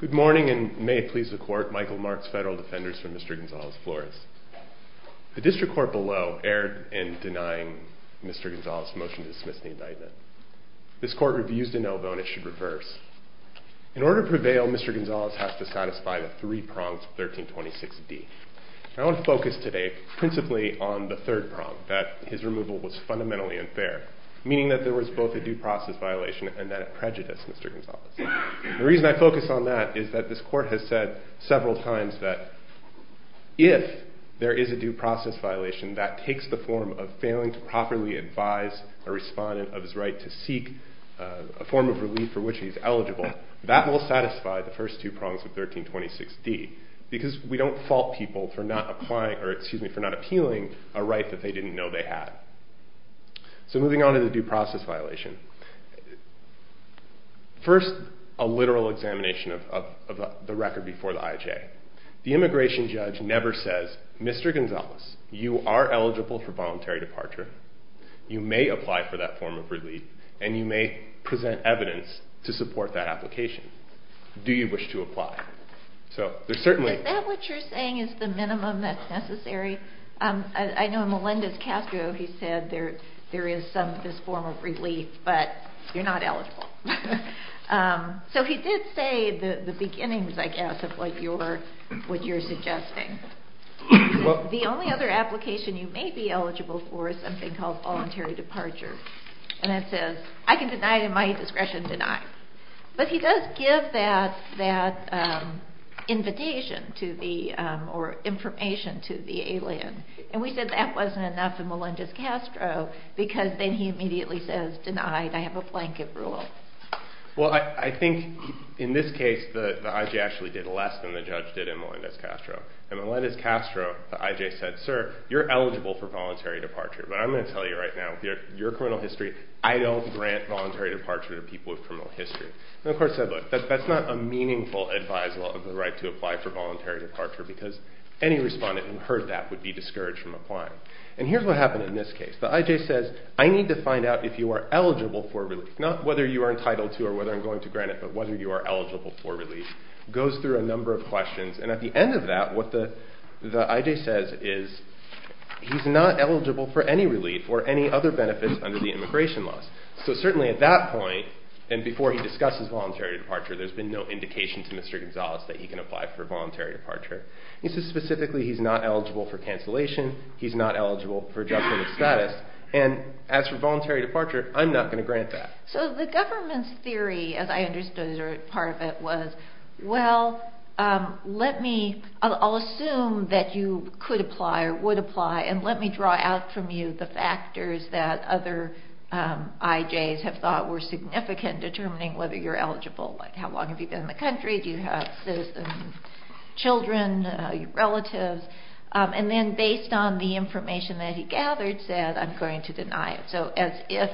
Good morning, and may it please the Court, Michael Marks, Federal Defenders for Mr. Gonzalez-Flores. The District Court below erred in denying Mr. Gonzalez's motion to dismiss the indictment. This Court reviews de novo, and it should reverse. In order to prevail, Mr. Gonzalez has to satisfy the three prongs of 1326d. I want to focus today principally on the third prong, that his removal was fundamentally unfair, meaning that there was both a due process violation and then a prejudice, Mr. Gonzalez. The reason I focus on that is that this Court has said several times that if there is a due process violation, that takes the form of failing to properly advise a respondent of his right to seek a form of relief for which he is eligible. That will satisfy the first two prongs of 1326d, because we don't fault people for not appealing a right that they didn't know they had. So moving on to the due process violation, first a literal examination of the record before the IHA. The immigration judge never says, Mr. Gonzalez, you are eligible for voluntary departure, you may apply for that form of relief, and you may present evidence to support that application. Do you wish to apply? Is that what you're saying is the minimum that's necessary? I know Melendez Castro, he said there is some form of relief, but you're not eligible. So he did say the beginnings, I guess, of what you're suggesting. The only other application you may be eligible for is something called voluntary departure. And it says, I can deny it at my discretion, deny. But he does give that invitation to the, or information to the alien. And we said that wasn't enough in Melendez Castro, because then he immediately says, denied, I have a blanket rule. Well, I think in this case, the IHA actually did less than the judge did in Melendez Castro. In Melendez Castro, the IHA said, sir, you're eligible for voluntary departure. But I'm going to tell you right now, your criminal history, I don't grant voluntary departure to people with criminal history. And the court said, look, that's not a meaningful advisable of the right to apply for voluntary departure, because any respondent who heard that would be discouraged from applying. And here's what happened in this case. The IJ says, I need to find out if you are eligible for relief. Not whether you are entitled to or whether I'm going to grant it, but whether you are eligible for relief. It goes through a number of questions. And at the end of that, what the IJ says is, he's not eligible for any relief or any other benefits under the immigration laws. So certainly at that point, and before he discusses voluntary departure, there's been no indication to Mr. Gonzalez that he can apply for voluntary departure. He says specifically he's not eligible for cancellation. He's not eligible for judgment of status. And as for voluntary departure, I'm not going to grant that. So the government's theory, as I understood part of it, was, well, let me, I'll assume that you could apply or would apply, and let me draw out from you the factors that other IJs have thought were significant determining whether you're eligible. Like how long have you been in the country, do you have citizens, children, relatives. And then based on the information that he gathered, said, I'm going to deny it. So as if,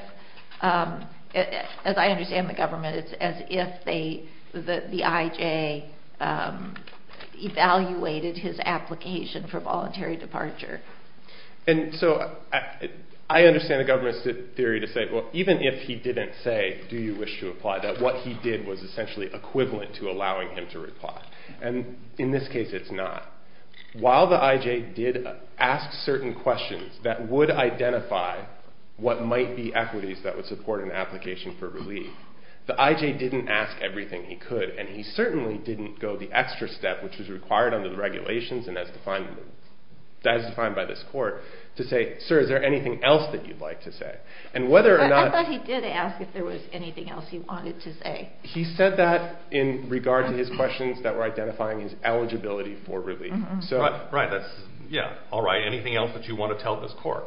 as I understand the government, it's as if the IJ evaluated his application for voluntary departure. And so I understand the government's theory to say, well, even if he didn't say, do you wish to apply, that what he did was essentially equivalent to allowing him to apply. And in this case, it's not. While the IJ did ask certain questions that would identify what might be equities that would support an application for relief, the IJ didn't ask everything he could. And he certainly didn't go the extra step, which was required under the regulations and as defined by this court, to say, sir, is there anything else that you'd like to say? And whether or not... But I thought he did ask if there was anything else he wanted to say. He said that in regard to his questions that were identifying his eligibility for relief. Right. Yeah. All right. Anything else that you want to tell this court?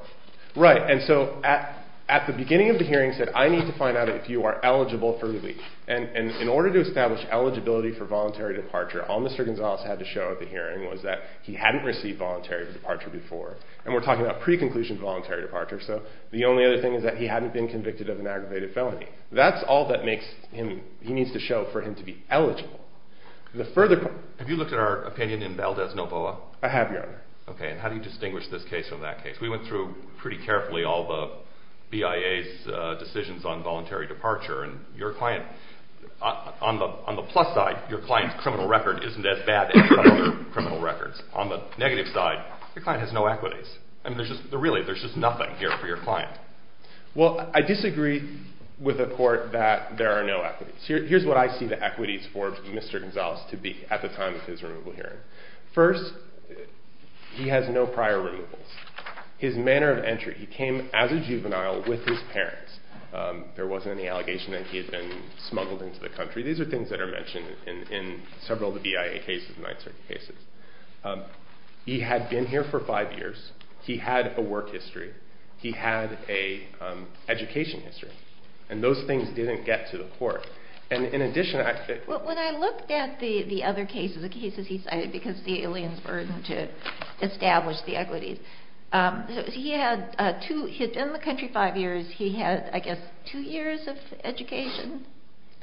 Right. And so at the beginning of the hearing, he said, I need to find out if you are eligible for relief. And in order to establish eligibility for voluntary departure, all Mr. Gonzales had to show at the hearing was that he hadn't received voluntary departure before. And we're talking about pre-conclusion voluntary departure. So the only other thing is that he hadn't been convicted of an aggravated felony. That's all that he needs to show for him to be eligible. Have you looked at our opinion in Valdez-Novoa? I have, Your Honor. Okay. And how do you distinguish this case from that case? We went through pretty carefully all the BIA's decisions on voluntary departure. And on the plus side, your client's criminal record isn't as bad as other criminal records. On the negative side, your client has no equities. Really, there's just nothing here for your client. Well, I disagree with the court that there are no equities. Here's what I see the equities for Mr. Gonzales to be at the time of his removal hearing. First, he has no prior removals. His manner of entry, he came as a juvenile with his parents. There wasn't any allegation that he had been smuggled into the country. These are things that are mentioned in several of the BIA cases and 9th Circuit cases. He had been here for five years. He had a work history. He had an education history. And those things didn't get to the court. And in addition, I think... Well, when I looked at the other cases, the cases he cited, because of the alien's burden to establish the equities, he had been in the country five years. He had, I guess, two years of education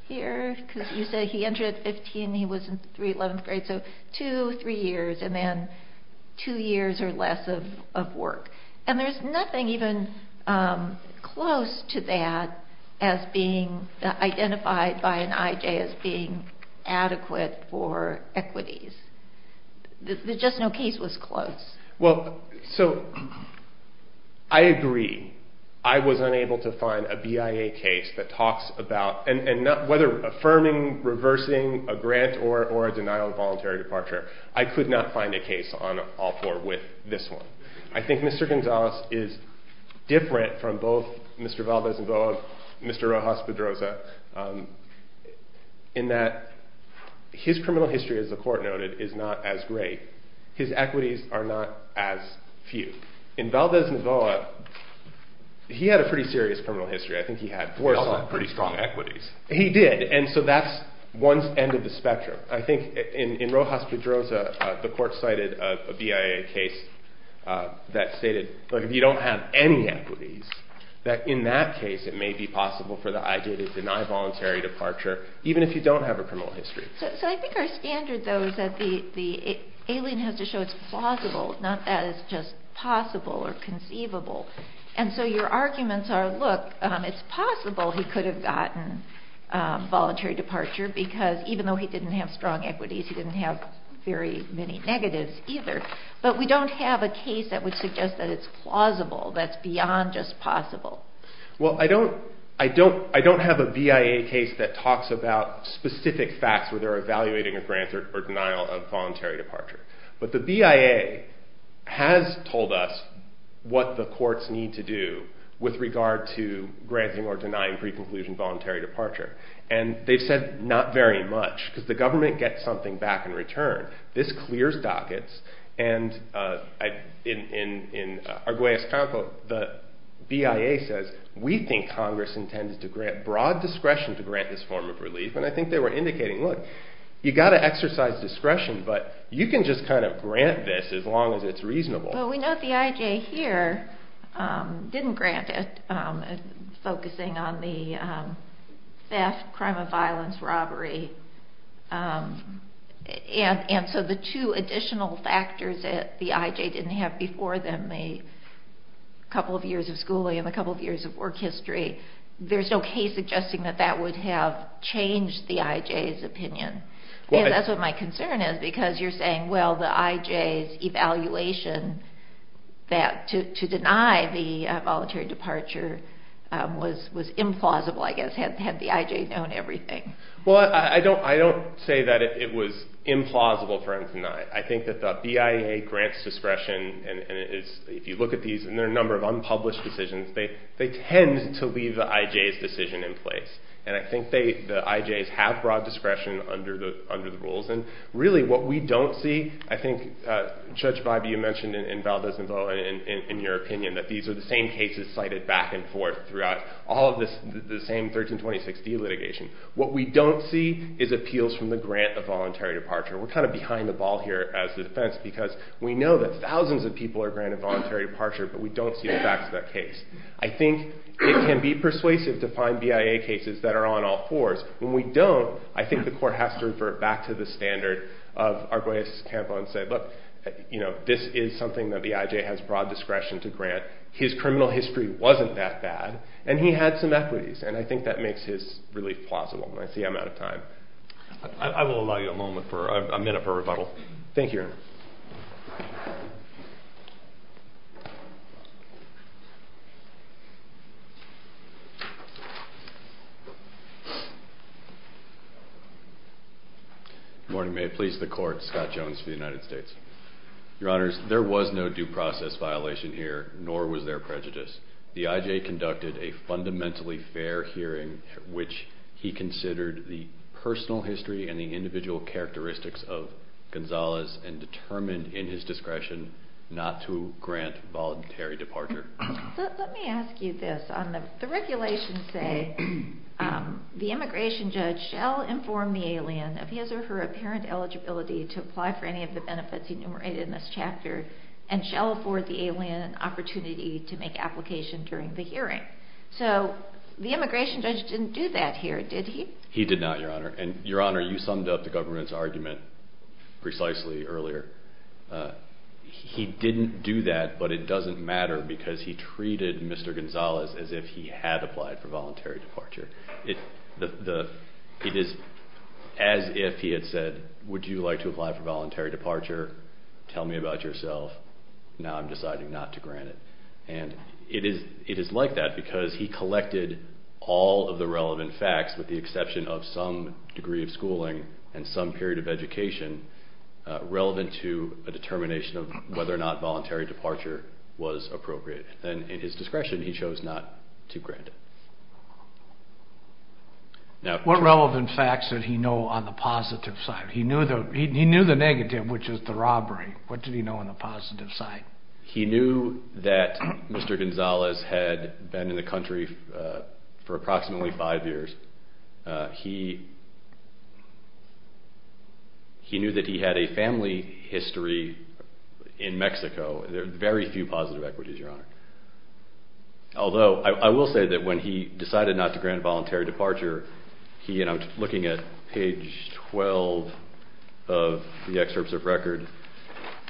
here. Because you said he entered at 15. He was in the 11th grade. So two, three years, and then two years or less of work. And there's nothing even close to that as being identified by an IJ as being adequate for equities. There's just no case that was close. Well, so I agree. I was unable to find a BIA case that talks about, and whether affirming, reversing a grant, or a denial of voluntary departure, I could not find a case on all four with this one. I think Mr. Gonzalez is different from both Mr. Valdez-Novoa and Mr. Rojas-Pedroza in that his criminal history, as the court noted, is not as great. His equities are not as few. In Valdez-Novoa, he had a pretty serious criminal history. I think he had four- He also had pretty strong equities. He did. And so that's one end of the spectrum. I think in Rojas-Pedroza, the court cited a BIA case that stated, look, if you don't have any equities, that in that case it may be possible for the IJ to deny voluntary departure, even if you don't have a criminal history. So I think our standard, though, is that the alien has to show it's plausible, not that it's just possible or conceivable. And so your arguments are, look, it's possible he could have gotten voluntary departure because even though he didn't have strong equities, he didn't have very many negatives either. But we don't have a case that would suggest that it's plausible, that it's beyond just possible. Well, I don't have a BIA case that talks about specific facts where they're evaluating a grant or denial of voluntary departure. But the BIA has told us what the courts need to do with regard to granting or denying pre-conclusion voluntary departure. And they've said not very much because the government gets something back in return. This clears dockets. And in Arguelles-Canco, the BIA says, we think Congress intends to grant broad discretion to grant this form of relief. And I think they were indicating, look, you've got to exercise discretion, but you can just kind of grant this as long as it's reasonable. Well, we know the IJ here didn't grant it, focusing on the theft, crime of violence, robbery. And so the two additional factors that the IJ didn't have before them, the couple of years of schooling and the couple of years of work history, there's no case suggesting that that would have changed the IJ's opinion. That's what my concern is because you're saying, well, the IJ's evaluation to deny the voluntary departure was implausible, I guess, had the IJ known everything. Well, I don't say that it was implausible for them to deny it. I think that the BIA grants discretion, and if you look at these, and there are a number of unpublished decisions, they tend to leave the IJ's decision in place. And I think the IJ's have broad discretion under the rules. And really what we don't see, I think, Judge Bybee, you mentioned in Valdez-Navoa, in your opinion, that these are the same cases cited back and forth throughout all of the same 1326d litigation. What we don't see is appeals from the grant of voluntary departure. We're kind of behind the ball here as the defense because we know that thousands of people are granted voluntary departure, but we don't see the facts of that case. I think it can be persuasive to find BIA cases that are on all fours. When we don't, I think the court has to revert back to the standard of Arguelles-Campo and say, look, this is something that the IJ has broad discretion to grant. His criminal history wasn't that bad, and he had some equities. And I think that makes his relief plausible. And I see I'm out of time. I will allow you a moment for a minute for rebuttal. Thank you. Good morning. May it please the Court, Scott Jones for the United States. Your Honors, there was no due process violation here, nor was there prejudice. The IJ conducted a fundamentally fair hearing, which he considered the personal history and the individual characteristics of Gonzalez and determined in his discretion not to grant voluntary departure. Let me ask you this. The regulations say the immigration judge shall inform the alien of his or her apparent eligibility to apply for any of the benefits enumerated in this chapter and shall afford the alien an opportunity to make application during the hearing. So the immigration judge didn't do that here, did he? He did not, Your Honor. And, Your Honor, you summed up the government's argument precisely earlier. He didn't do that, but it doesn't matter because he treated Mr. Gonzalez as if he had applied for voluntary departure. It is as if he had said, Would you like to apply for voluntary departure? Tell me about yourself. Now I'm deciding not to grant it. And it is like that because he collected all of the relevant facts, relevant to a determination of whether or not voluntary departure was appropriate. And in his discretion, he chose not to grant it. What relevant facts did he know on the positive side? He knew the negative, which is the robbery. What did he know on the positive side? He knew that Mr. Gonzalez had been in the country for approximately five years. He knew that he had a family history in Mexico. There are very few positive equities, Your Honor. Although I will say that when he decided not to grant voluntary departure, he, and I'm looking at page 12 of the excerpts of record,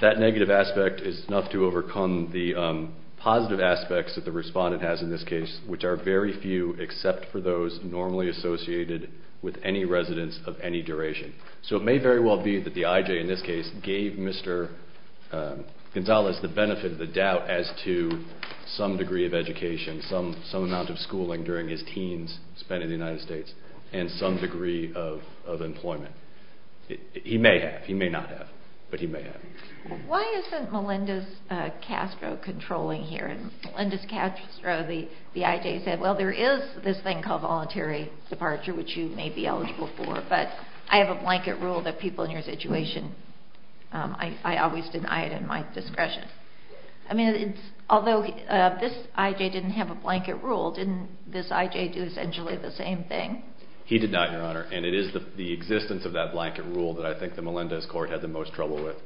that negative aspect is enough to overcome the positive aspects that the respondent has in this case, which are very few except for those normally associated with any residence of any duration. So it may very well be that the I.J., in this case, gave Mr. Gonzalez the benefit of the doubt as to some degree of education, some amount of schooling during his teens spent in the United States, and some degree of employment. He may have. He may not have. But he may have. Why isn't Melinda Castro controlling here? When Melinda Castro, the I.J., said, well, there is this thing called voluntary departure, which you may be eligible for, but I have a blanket rule that people in your situation, I always deny it at my discretion. I mean, although this I.J. didn't have a blanket rule, didn't this I.J. do essentially the same thing? He did not, Your Honor, and it is the existence of that blanket rule that I think the Melinda's court had the most trouble with.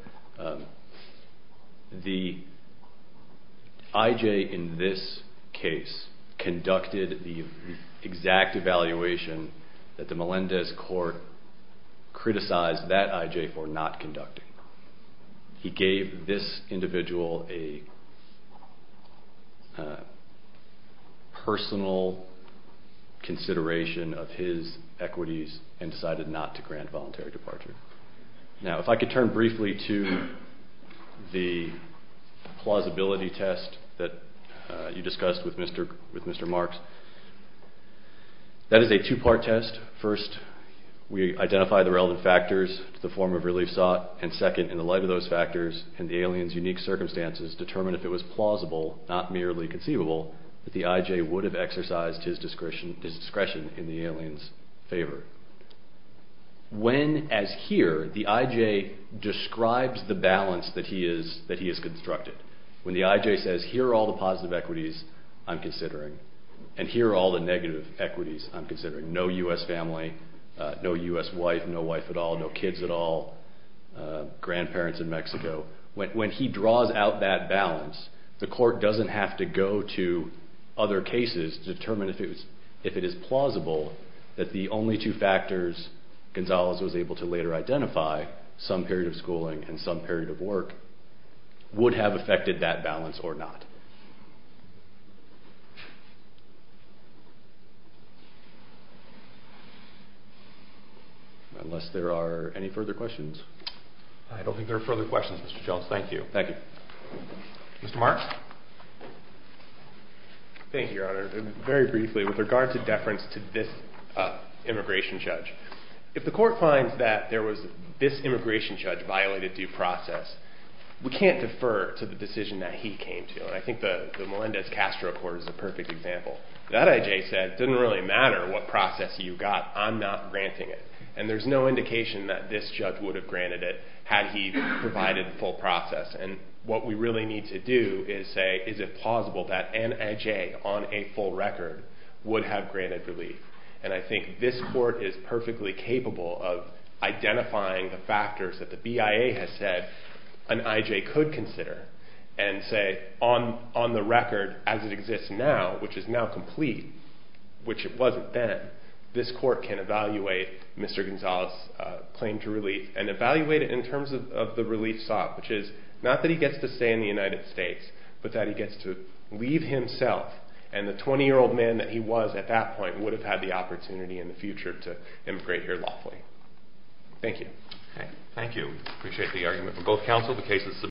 The I.J. in this case conducted the exact evaluation that the Melinda's court criticized that I.J. for not conducting. He gave this individual a personal consideration of his equities and decided not to grant voluntary departure. Now, if I could turn briefly to the plausibility test that you discussed with Mr. Marks. That is a two-part test. First, we identify the relevant factors to the form of relief sought, and second, in the light of those factors and the alien's unique circumstances, determine if it was plausible, not merely conceivable, that the I.J. would have exercised his discretion in the alien's favor. When, as here, the I.J. describes the balance that he has constructed, when the I.J. says here are all the positive equities I'm considering and here are all the negative equities I'm considering, no U.S. family, no U.S. wife, no wife at all, no kids at all, grandparents in Mexico, when he draws out that balance, the court doesn't have to go to other cases to determine if it is plausible that the only two factors Gonzales was able to later identify, some period of schooling and some period of work, would have affected that balance or not. Unless there are any further questions. I don't think there are further questions, Mr. Schultz. Thank you. Thank you. Mr. Marks? Thank you, Your Honor. Very briefly, with regard to deference to this immigration judge, if the court finds that there was this immigration judge violated due process, we can't defer to the decision that he came to. And I think the Melendez-Castro Court is a perfect example. That I.J. said didn't really matter what process you got, I'm not granting it. And there's no indication that this judge would have granted it had he provided full process. And what we really need to do is say is it plausible that an I.J. on a full record would have granted relief. And I think this court is perfectly capable of identifying the factors that the BIA has said an I.J. could consider and say on the record as it exists now, which is now complete, which it wasn't then, this court can evaluate Mr. Gonzales' claim to relief and evaluate it in terms of the relief sought, which is not that he gets to stay in the United States, but that he gets to leave himself and the 20-year-old man that he was at that point would have had the opportunity in the future to immigrate here lawfully. Thank you. Thank you. I appreciate the argument from both counsel.